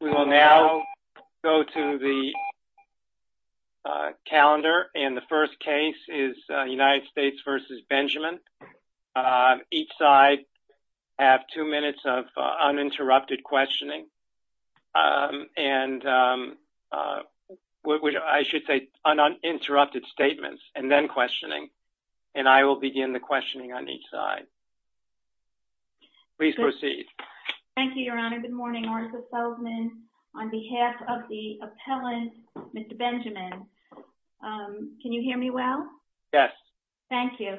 We will now go to the calendar and the first case is United States v. Benjamin. Each side have two minutes of uninterrupted questioning and I should say uninterrupted statements and then questioning and I will begin the questioning on each side. Please proceed. Thank you, Your Honor. Good morning. Martha Selzman on behalf of the appellant, Mr. Benjamin. Can you hear me well? Yes. Thank you.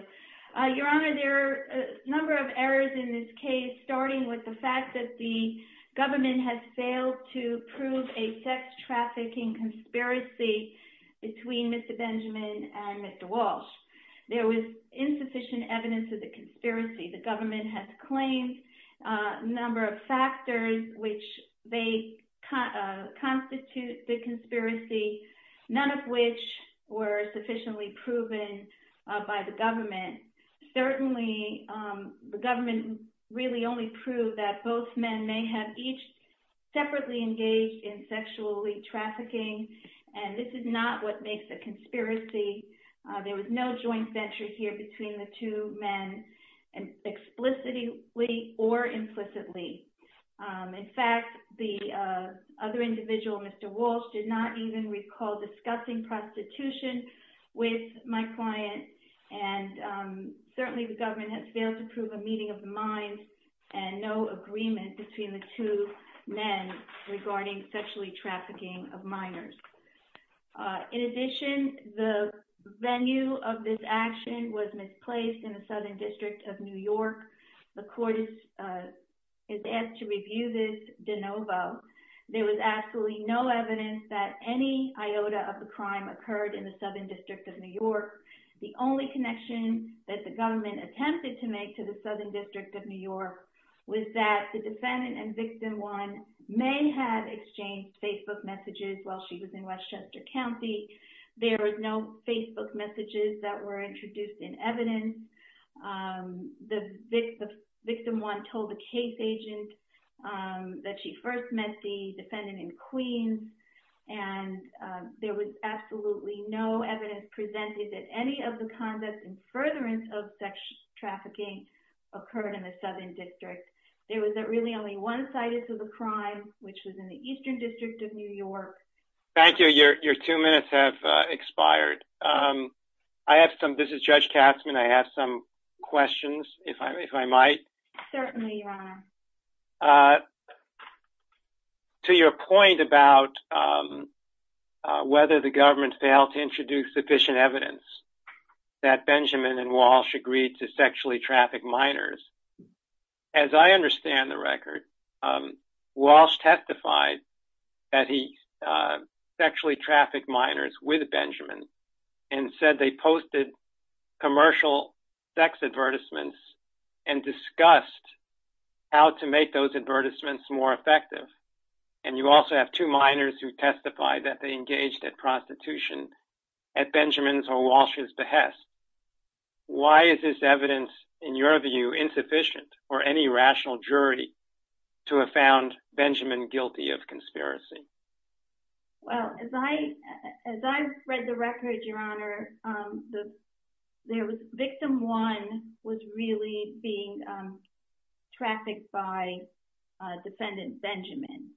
Your Honor, there are a number of errors in this case starting with the fact that the government has failed to prove a sex trafficking conspiracy between Mr. Benjamin and Mr. Walsh. There was insufficient evidence of the conspiracy. The government has a number of factors which they constitute the conspiracy, none of which were sufficiently proven by the government. Certainly, the government really only proved that both men may have each separately engaged in sexually trafficking and this is not what makes a conspiracy. There was no joint venture here between the two men explicitly or implicitly. In fact, the other individual, Mr. Walsh, did not even recall discussing prostitution with my client and certainly the government has failed to prove a meeting of the mind and no agreement between the two men regarding sexually trafficking of minors. In addition, the venue of this action was misplaced in the Southern District of New York. The court is asked to review this de novo. There was absolutely no evidence that any iota of the crime occurred in the Southern District of New York. The only connection that the government attempted to make to the Southern District of New York was that the Westchester County, there was no Facebook messages that were introduced in evidence. The victim, one, told the case agent that she first met the defendant in Queens and there was absolutely no evidence presented that any of the conduct and furtherance of sex trafficking occurred in the Southern District. There was really only one site of the crime, which was in the Eastern District of New York. Thank you. Your two minutes have expired. This is Judge Katzmann. I have some questions, if I might. Certainly, Your Honor. To your point about whether the government failed to introduce sufficient evidence that Benjamin and Walsh agreed to sexually traffic minors, as I understand the record, Walsh testified that he sexually trafficked minors with Benjamin and said they posted commercial sex advertisements and discussed how to make those advertisements more effective. You also have two minors who testified that they engaged in prostitution at Benjamin's or Walsh's behest. Why is this evidence, in your view, insufficient or any rational jury to have found Benjamin guilty of conspiracy? Well, as I read the record, Your Honor, victim one was really being trafficked by defendant Benjamin.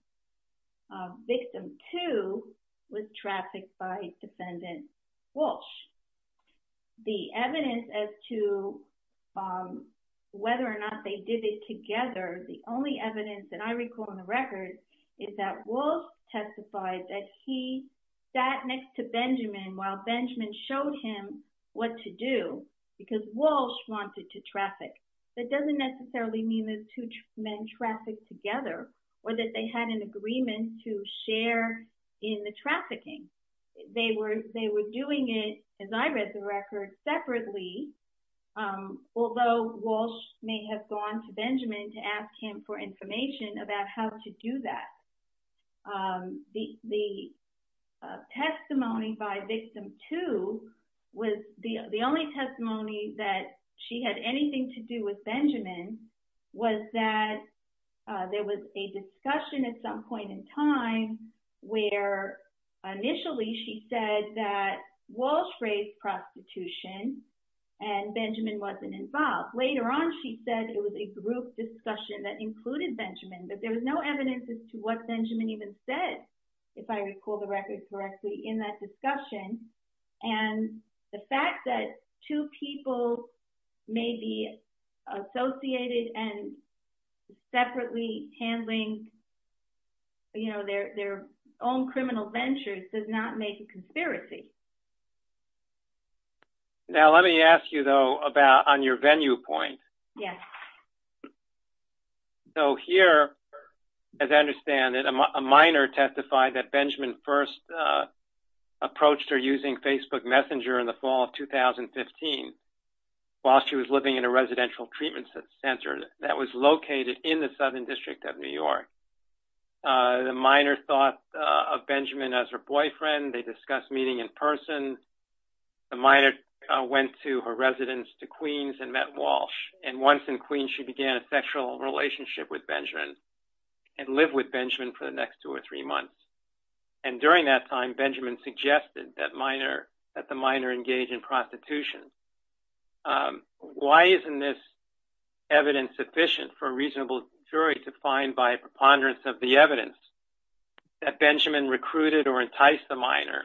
Victim two was trafficked by defendant Walsh. The evidence as to whether or not they did it together, the only evidence that I recall in the record is that Walsh testified that he sat next to Benjamin while Benjamin showed him what to do because Walsh wanted to traffic. That doesn't necessarily mean those two men trafficked together or that they had an agreement to share in the trafficking. They were doing it, as I read the record, separately, although Walsh may have gone to Benjamin to ask him for information about how to do that. The testimony by victim two was the only testimony that she had anything to do with Benjamin was that there was a discussion at some point in time where initially she said that Walsh raised prostitution and Benjamin wasn't involved. Later on, she said it was a group discussion that included Benjamin, but there was no evidence as to what Benjamin even said, if I recall the record correctly, in that discussion. The fact that two people may be associated and separately handling their own criminal ventures does not make a conspiracy. Now, let me ask you, though, on your venue point. So here, as I understand it, a minor testified that Benjamin first approached her using Facebook Messenger in the fall of 2015 while she was living in a residential treatment center that was located in the Southern District of New York. The minor thought of Benjamin as her boyfriend. They discussed meeting in person. The minor went to her residence to Queens and met Walsh. And once in Queens, she began a sexual relationship with Benjamin and lived with Benjamin for the next two or three months. And during that time, Benjamin suggested that the minor engage in prostitution. Why isn't this evidence sufficient for a reasonable jury to find by a preponderance of the evidence that Benjamin recruited or enticed the minor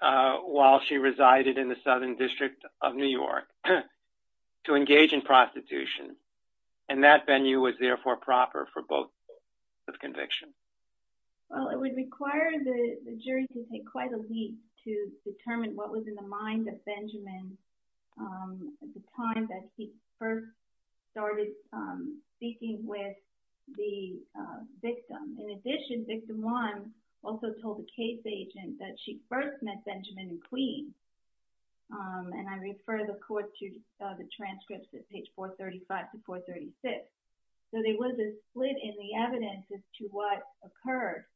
while she resided in the Southern District of New York to engage in prostitution? And that venue was therefore proper for both convictions. Well, it would require the jury to take quite a week to determine what was in the mind of Benjamin at the time that he first started speaking with the victim. In addition, victim one also told the case agent that she first met Benjamin in Queens. And I refer the court to the transcripts at page 435 to 436. So there was a split in the evidence as to what occurred.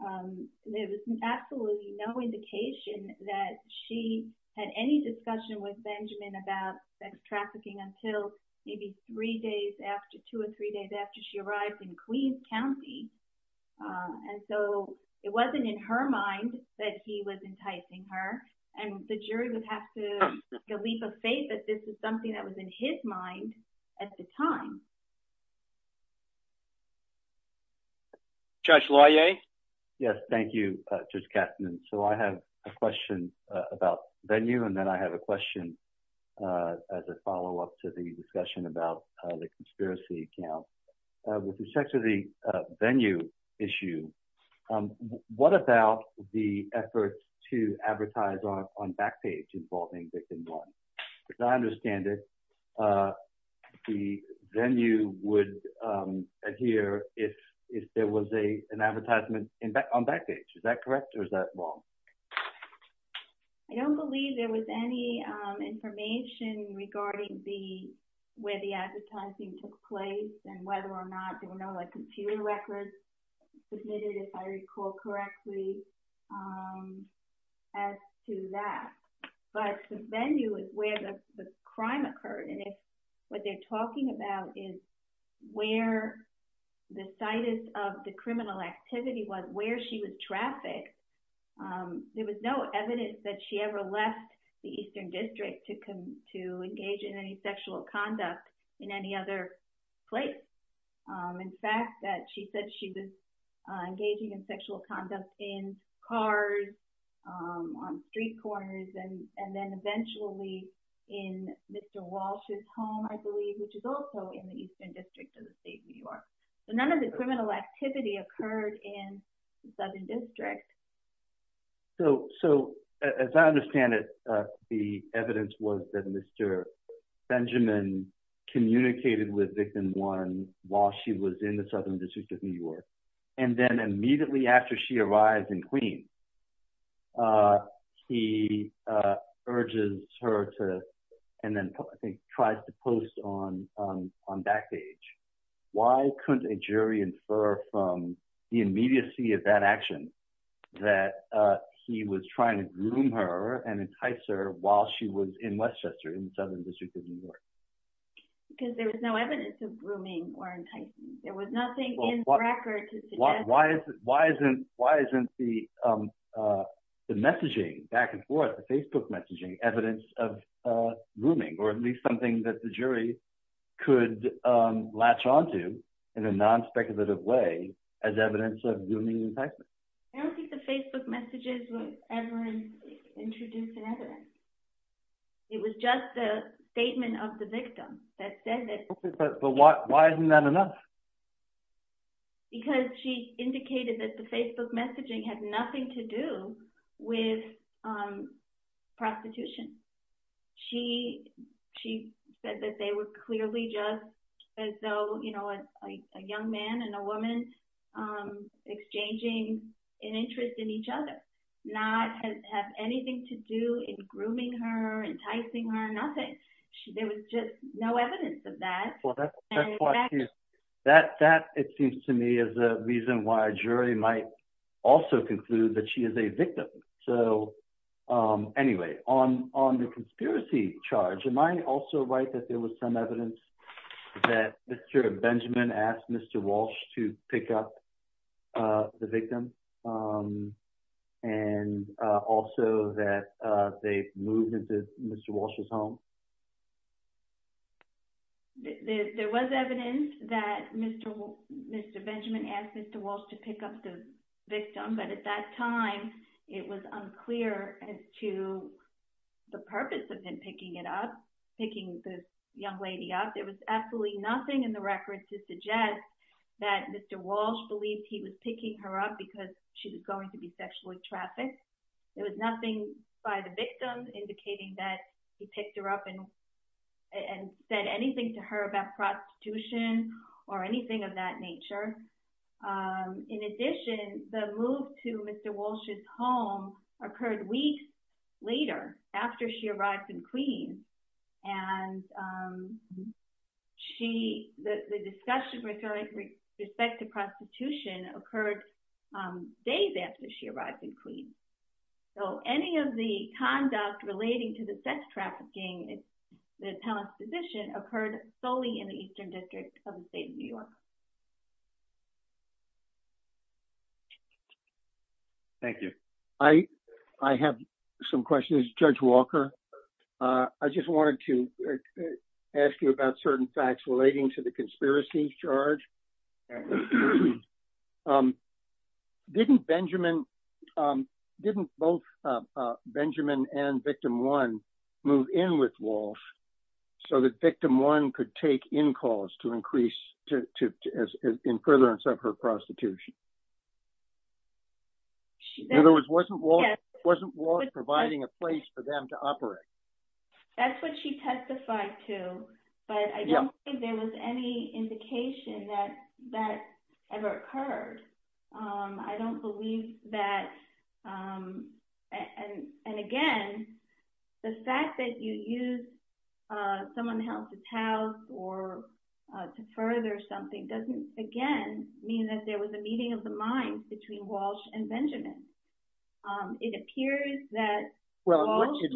There was absolutely no indication that she had any discussion with Benjamin about sex trafficking until maybe three days after, two or three days after she arrived in Queens County. And so it wasn't in her mind that he was enticing her. And the jury would have to make a leap of faith that this is something that was in his mind at the time. Judge Loyer? Yes, thank you, Judge Kastner. So I have a question about venue and then I have a question in respect to the venue issue. What about the effort to advertise on Backpage involving victim one? As I understand it, the venue would adhere if there was an advertisement on Backpage. Is that correct or is that wrong? I don't believe there was any information regarding where the advertising took place and whether or not there were no computer records submitted, if I recall correctly, as to that. But the venue is where the crime occurred. And if what they're talking about is where the situs of the criminal activity was, where she was trafficked, there was no evidence that she ever left the Eastern District to engage in any sexual conduct in any other place. In fact, she said she was engaging in sexual conduct in cars, on street corners, and then eventually in Mr. Walsh's home, I believe, which is also in the Eastern District of the state of New York. So none of the criminal activity occurred in the district. So as I understand it, the evidence was that Mr. Benjamin communicated with victim one while she was in the Southern District of New York. And then immediately after she arrived in Queens, he urges her to, and then I think tries to post on Backpage. Why couldn't a jury infer from the immediacy of that action that he was trying to groom her and entice her while she was in Westchester, in the Southern District of New York? Because there was no evidence of grooming or enticing. There was nothing in the record to suggest that. Why isn't the messaging back and forth, the Facebook messaging, evidence of grooming, or at least something that the jury could latch onto in a non-speculative way as evidence of grooming and enticing? I don't think the Facebook messages were ever introduced in evidence. It was just the statement of the victim that said that. Okay, but why isn't that enough? Because she indicated that the Facebook messaging had nothing to do with prostitution. She said that they were clearly just as though a young man and a woman exchanging an interest in each other, not have anything to do in grooming her, enticing her, nothing. There was just no evidence of that. That, it seems to me, is a reason why a jury might also conclude that she is a victim. Anyway, on the conspiracy charge, am I also right that there was some evidence that Mr. Benjamin asked Mr. Walsh to pick up the victim and also that they moved into Mr. Walsh's home? There was evidence that Mr. Benjamin asked Mr. Walsh to pick up the victim, but at that time, it was unclear as to the purpose of him picking it up, picking this young lady up. There was absolutely nothing in the record to suggest that Mr. Walsh believed he was picking her up because she was going to be sexually trafficked. There was nothing by the victim indicating that he picked her up and said anything to her about prostitution or anything of that nature. In addition, the move to Mr. Walsh's home occurred weeks later after she arrived in Queens. And the discussion with respect to prostitution occurred days after she arrived in Queens. So, any of the conduct relating to the sex trafficking, the attellant's position, occurred solely in the Eastern District of the state of New York. Thank you. I have some questions. Judge Walker, I just wanted to ask you about certain facts relating to the conspiracy charge. Didn't both Benjamin and Victim 1 move in with Walsh so that Victim 1 could take in-calls in furtherance of her prostitution? In other words, wasn't Walsh providing a place for them to operate? That's what she testified to, but I don't think there was any indication that that ever occurred. I don't believe that. And again, the fact that you used someone else's house to further something doesn't, again, mean that there was a meeting of the minds between Walsh and Benjamin. It appears that it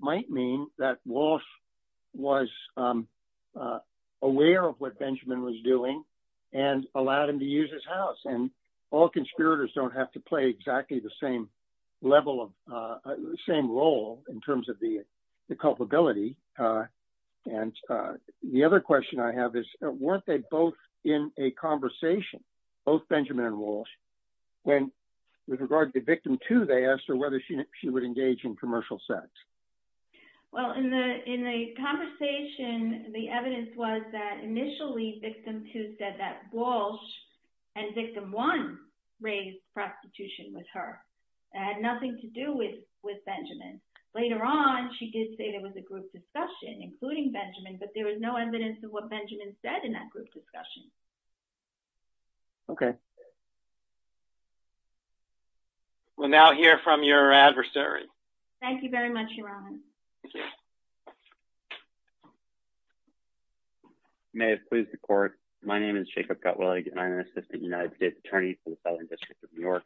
might mean that Walsh was aware of what Benjamin was doing and allowed him to use his house. And all conspirators don't have to play exactly the same role in terms of the culpability. And the other question I have is, weren't they both in a conversation, both Benjamin and Walsh, when, with regard to Victim 2, they asked her whether she would engage in commercial sex? Well, in the conversation, the evidence was that initially Victim 2 said that Walsh and Victim 1 raised prostitution with her. It had nothing to do with Benjamin. Later on, she did say there was a group discussion, including Benjamin, but there was no evidence of what Benjamin said in that group discussion. Okay. We'll now hear from your adversary. Thank you very much, Your Honor. May it please the Court. My name is Jacob Gutwillig, and I'm an Assistant United States Attorney for the Southern District of New York.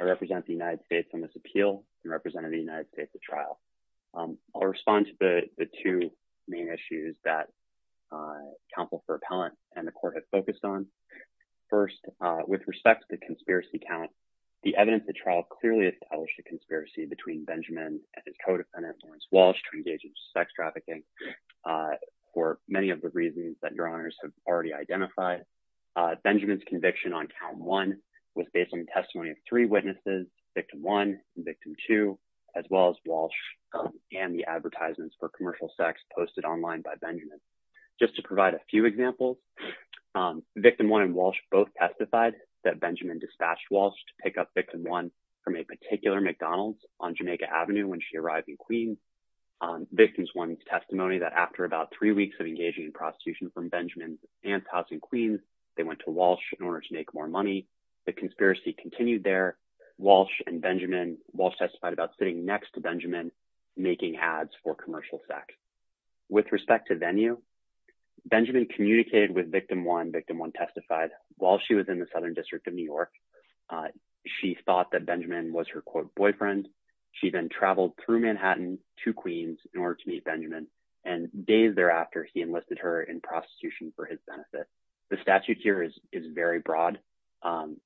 I represent the United States on this appeal and represent the United States at trial. I'll respond to the two main issues that Counsel for Appellant and the Court have focused on. First, with respect to the conspiracy count, the evidence at trial clearly established a conspiracy between Benjamin and his co-defendant, Lawrence Walsh, to engage in sex trafficking for many of the reasons that Your Honors have already identified. Benjamin's conviction on Count 1 was based on the testimony of three witnesses, Victim 1 and Victim 2, as well as Walsh and the advertisements for commercial sex posted online by Benjamin. Just to provide a few examples, Victim 1 and Walsh both testified that Benjamin dispatched Walsh to pick up Victim 1 from a particular McDonald's on Jamaica Avenue when she arrived in Queens. Victim 1's testimony that after about three weeks of engaging in prostitution from Benjamin's aunt's house in Queens, they went to Walsh in order to make more money. The conspiracy continued there. Walsh and Benjamin, Walsh testified about sitting next to Walsh. With respect to venue, Benjamin communicated with Victim 1, Victim 1 testified, while she was in the Southern District of New York. She thought that Benjamin was her, quote, boyfriend. She then traveled through Manhattan to Queens in order to meet Benjamin, and days thereafter, he enlisted her in prostitution for his benefit. The statute here is very broad.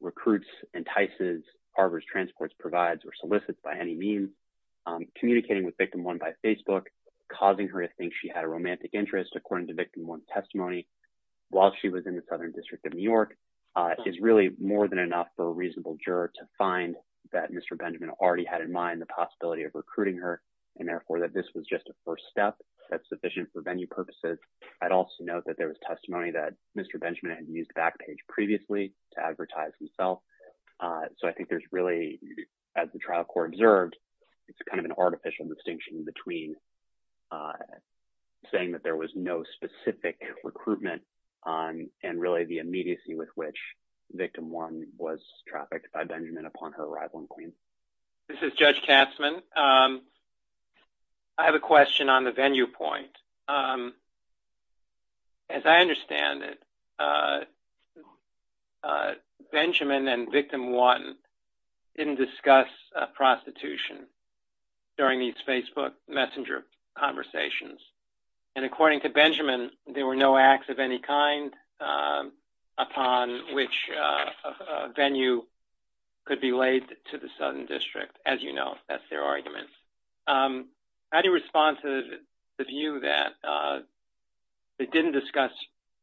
Recruits, entices, harbors, transports, provides, or solicits by any means, communicating with Victim 1 by Facebook, causing her to think she had a romantic interest, according to Victim 1's testimony, while she was in the Southern District of New York, is really more than enough for a reasonable juror to find that Mr. Benjamin already had in mind the possibility of recruiting her, and therefore, that this was just a first step that's sufficient for venue purposes. I'd also note that there was testimony that Mr. Benjamin had used Backpage previously to advertise himself, so I think there's really, as the trial court observed, it's kind of an artificial distinction between saying that there was no specific recruitment and really the immediacy with which Victim 1 was trafficked by Benjamin upon her arrival in Queens. This is Judge Katzman. I have a question on the venue point. As I understand it, Benjamin and Victim 1 didn't discuss prostitution during these Facebook messenger conversations, and according to Benjamin, there were no acts of any kind upon which venue could be laid to the Southern District. As you know, that's their argument. How do you respond to the view that they didn't discuss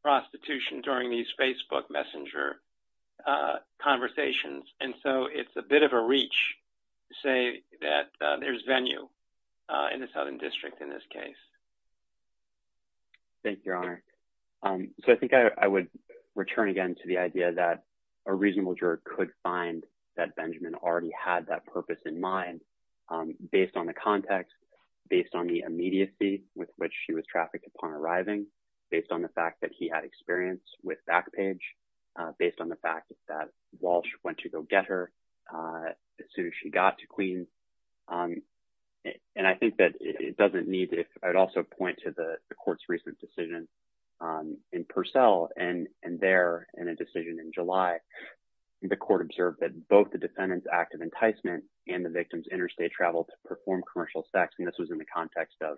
prostitution during these Facebook messenger conversations, and so it's a bit of a reach to say that there's venue in the Southern District in this case? Thank you, Your Honor. So, I think I would return again to the idea that a reasonable juror could find that Benjamin already had that purpose in mind based on the context, based on the immediacy with which she was trafficked upon arriving, based on the fact that he had experience with Backpage, based on the fact that Walsh went to go get her as soon as she got to Queens, and I think that it doesn't need to—I would also point to the Court's recent decision in Purcell, and there, in a decision in July, the Court observed that both the defendant's act of enticement and the victim's interstate travel to perform commercial sex—and this was in the context of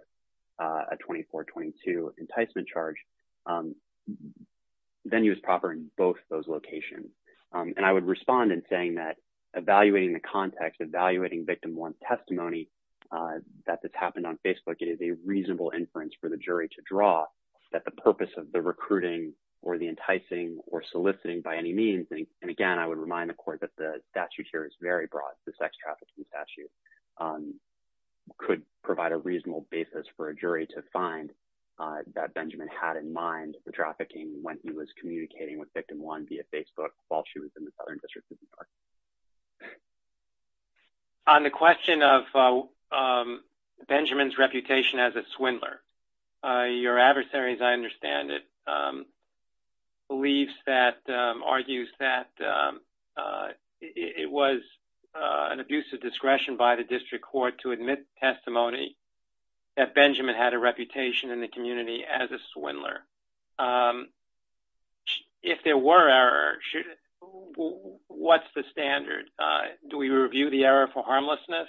a 24-22 enticement charge—venues proper in both those locations. And I would respond in saying that evaluating the context, evaluating Victim 1's testimony that this happened on Facebook, it is a reasonable inference for the jury to draw that the purpose of the recruiting or the enticing or soliciting by any means—and again, I would remind the Court that the statute here is very broad. The sex trafficking statute could provide a reasonable basis for a jury to find that Benjamin had in mind the trafficking when he was communicating with Victim 1 via Facebook while she was in the Southern District. On the question of Benjamin's reputation as a swindler, your adversary, as I understand it, believes that—argues that it was an abuse of discretion by the District Court to admit testimony that Benjamin had a reputation in the community as a swindler. If there were error, what's the standard? Do we review the error for harmlessness?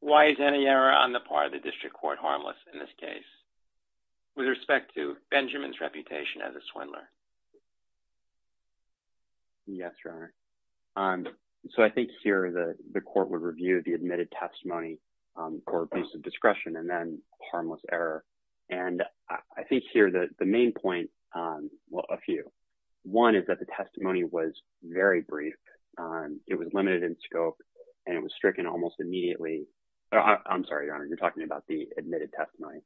Why is any error on the part of the District Court harmless in this case with respect to Benjamin's reputation as a swindler? Yes, Your Honor. So, I think here the Court would review the admitted testimony for abuse of discretion and then harmless error. And I think here that the main point—well, a few. One is that the testimony was very brief. It was limited in scope, and it was stricken almost immediately. I'm sorry, Your Honor, you're talking about the admitted testimony.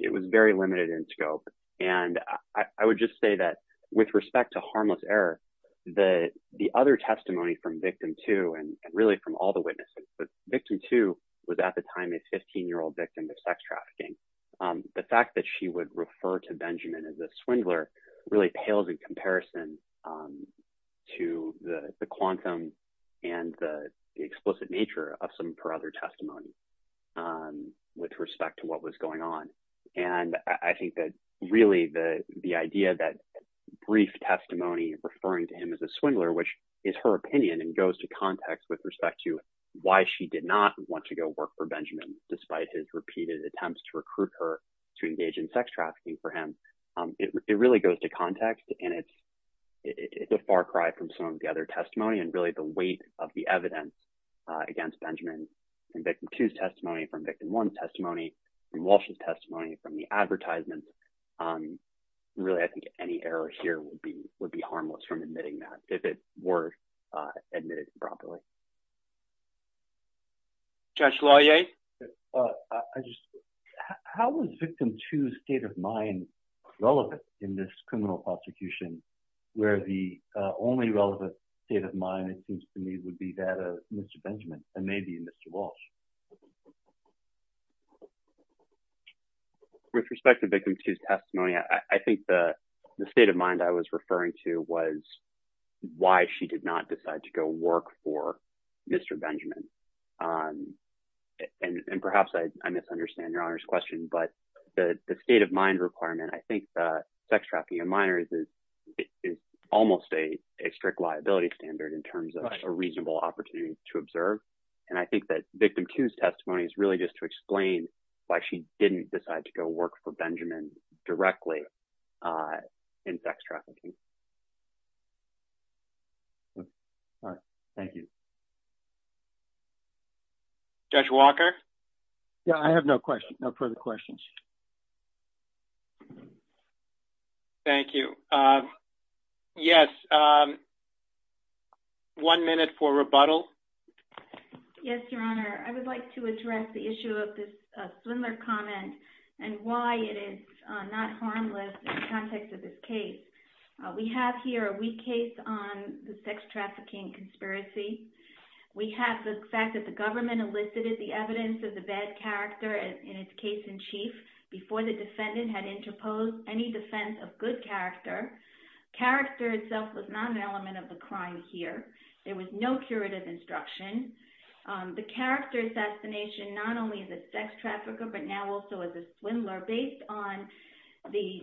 It was very limited in scope, and I would just say that with respect to harmless error, the other testimony from Victim 2 and really from all the witnesses—Victim 2 was at the time a 15-year-old victim of sex trafficking. The fact that she would refer to Benjamin as a swindler really pales in comparison to the quantum and the explicit nature of some of her other testimony with respect to what was going on. And I think that really the idea that brief testimony referring to him as a swindler, which is her opinion and goes to context with respect to why she did not want to go work for Benjamin despite his repeated attempts to recruit her to engage in sex trafficking for him, it really goes to context, and it's a far cry from some of the other testimony and really the weight of the evidence against Benjamin in Victim 2's testimony, from Victim 1's testimony, from Walsh's testimony, from the advertisements. Really, I think any error here would be harmless from admitting that if it were admitted improperly. Judge Loyer? How was Victim 2's state of mind relevant in this criminal prosecution where the only relevant state of mind, it seems to me, would be that of Mr. Benjamin and maybe Mr. Walsh? With respect to Victim 2's testimony, I think the state of mind I was referring to was why she did not decide to go work for Mr. Benjamin. And perhaps I misunderstand Your Honor's question, but the state of mind requirement, I think, for sex trafficking in minors is almost a strict liability standard in terms of a reasonable opportunity to observe. And I think that Victim 2's testimony is really just to explain why she didn't decide to go work for Benjamin directly in sex trafficking. All right. Thank you. Judge Walker? Yeah, I have no further questions. Thank you. Yes, one minute for rebuttal. Yes, Your Honor. I would like to address the issue of this Swindler comment and why it is not harmless in the context of this case. We have here a weak case on the sex trafficking conspiracy. We have the fact that the government elicited the evidence of the bad character in its case-in-chief before the defendant had interposed any defense of good character. Character itself was not an element of the crime here. There was no curative instruction. The character assassination, not only as a sex trafficker, but now also as a Swindler, based on the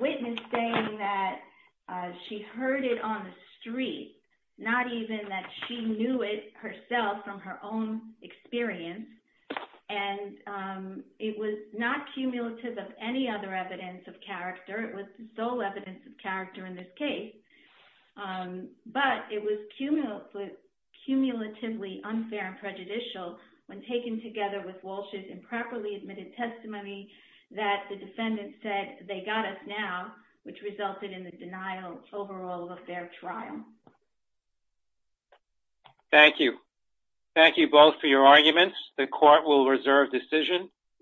witness saying that she heard it on the street, not even that she knew it was a crime, experience. And it was not cumulative of any other evidence of character. It was the sole evidence of character in this case. But it was cumulatively unfair and prejudicial when taken together with Walsh's improperly admitted testimony that the defendant said, they got us now, which resulted in the denial overall of their trial. Thank you. Thank you both for your arguments. The court will reserve decision.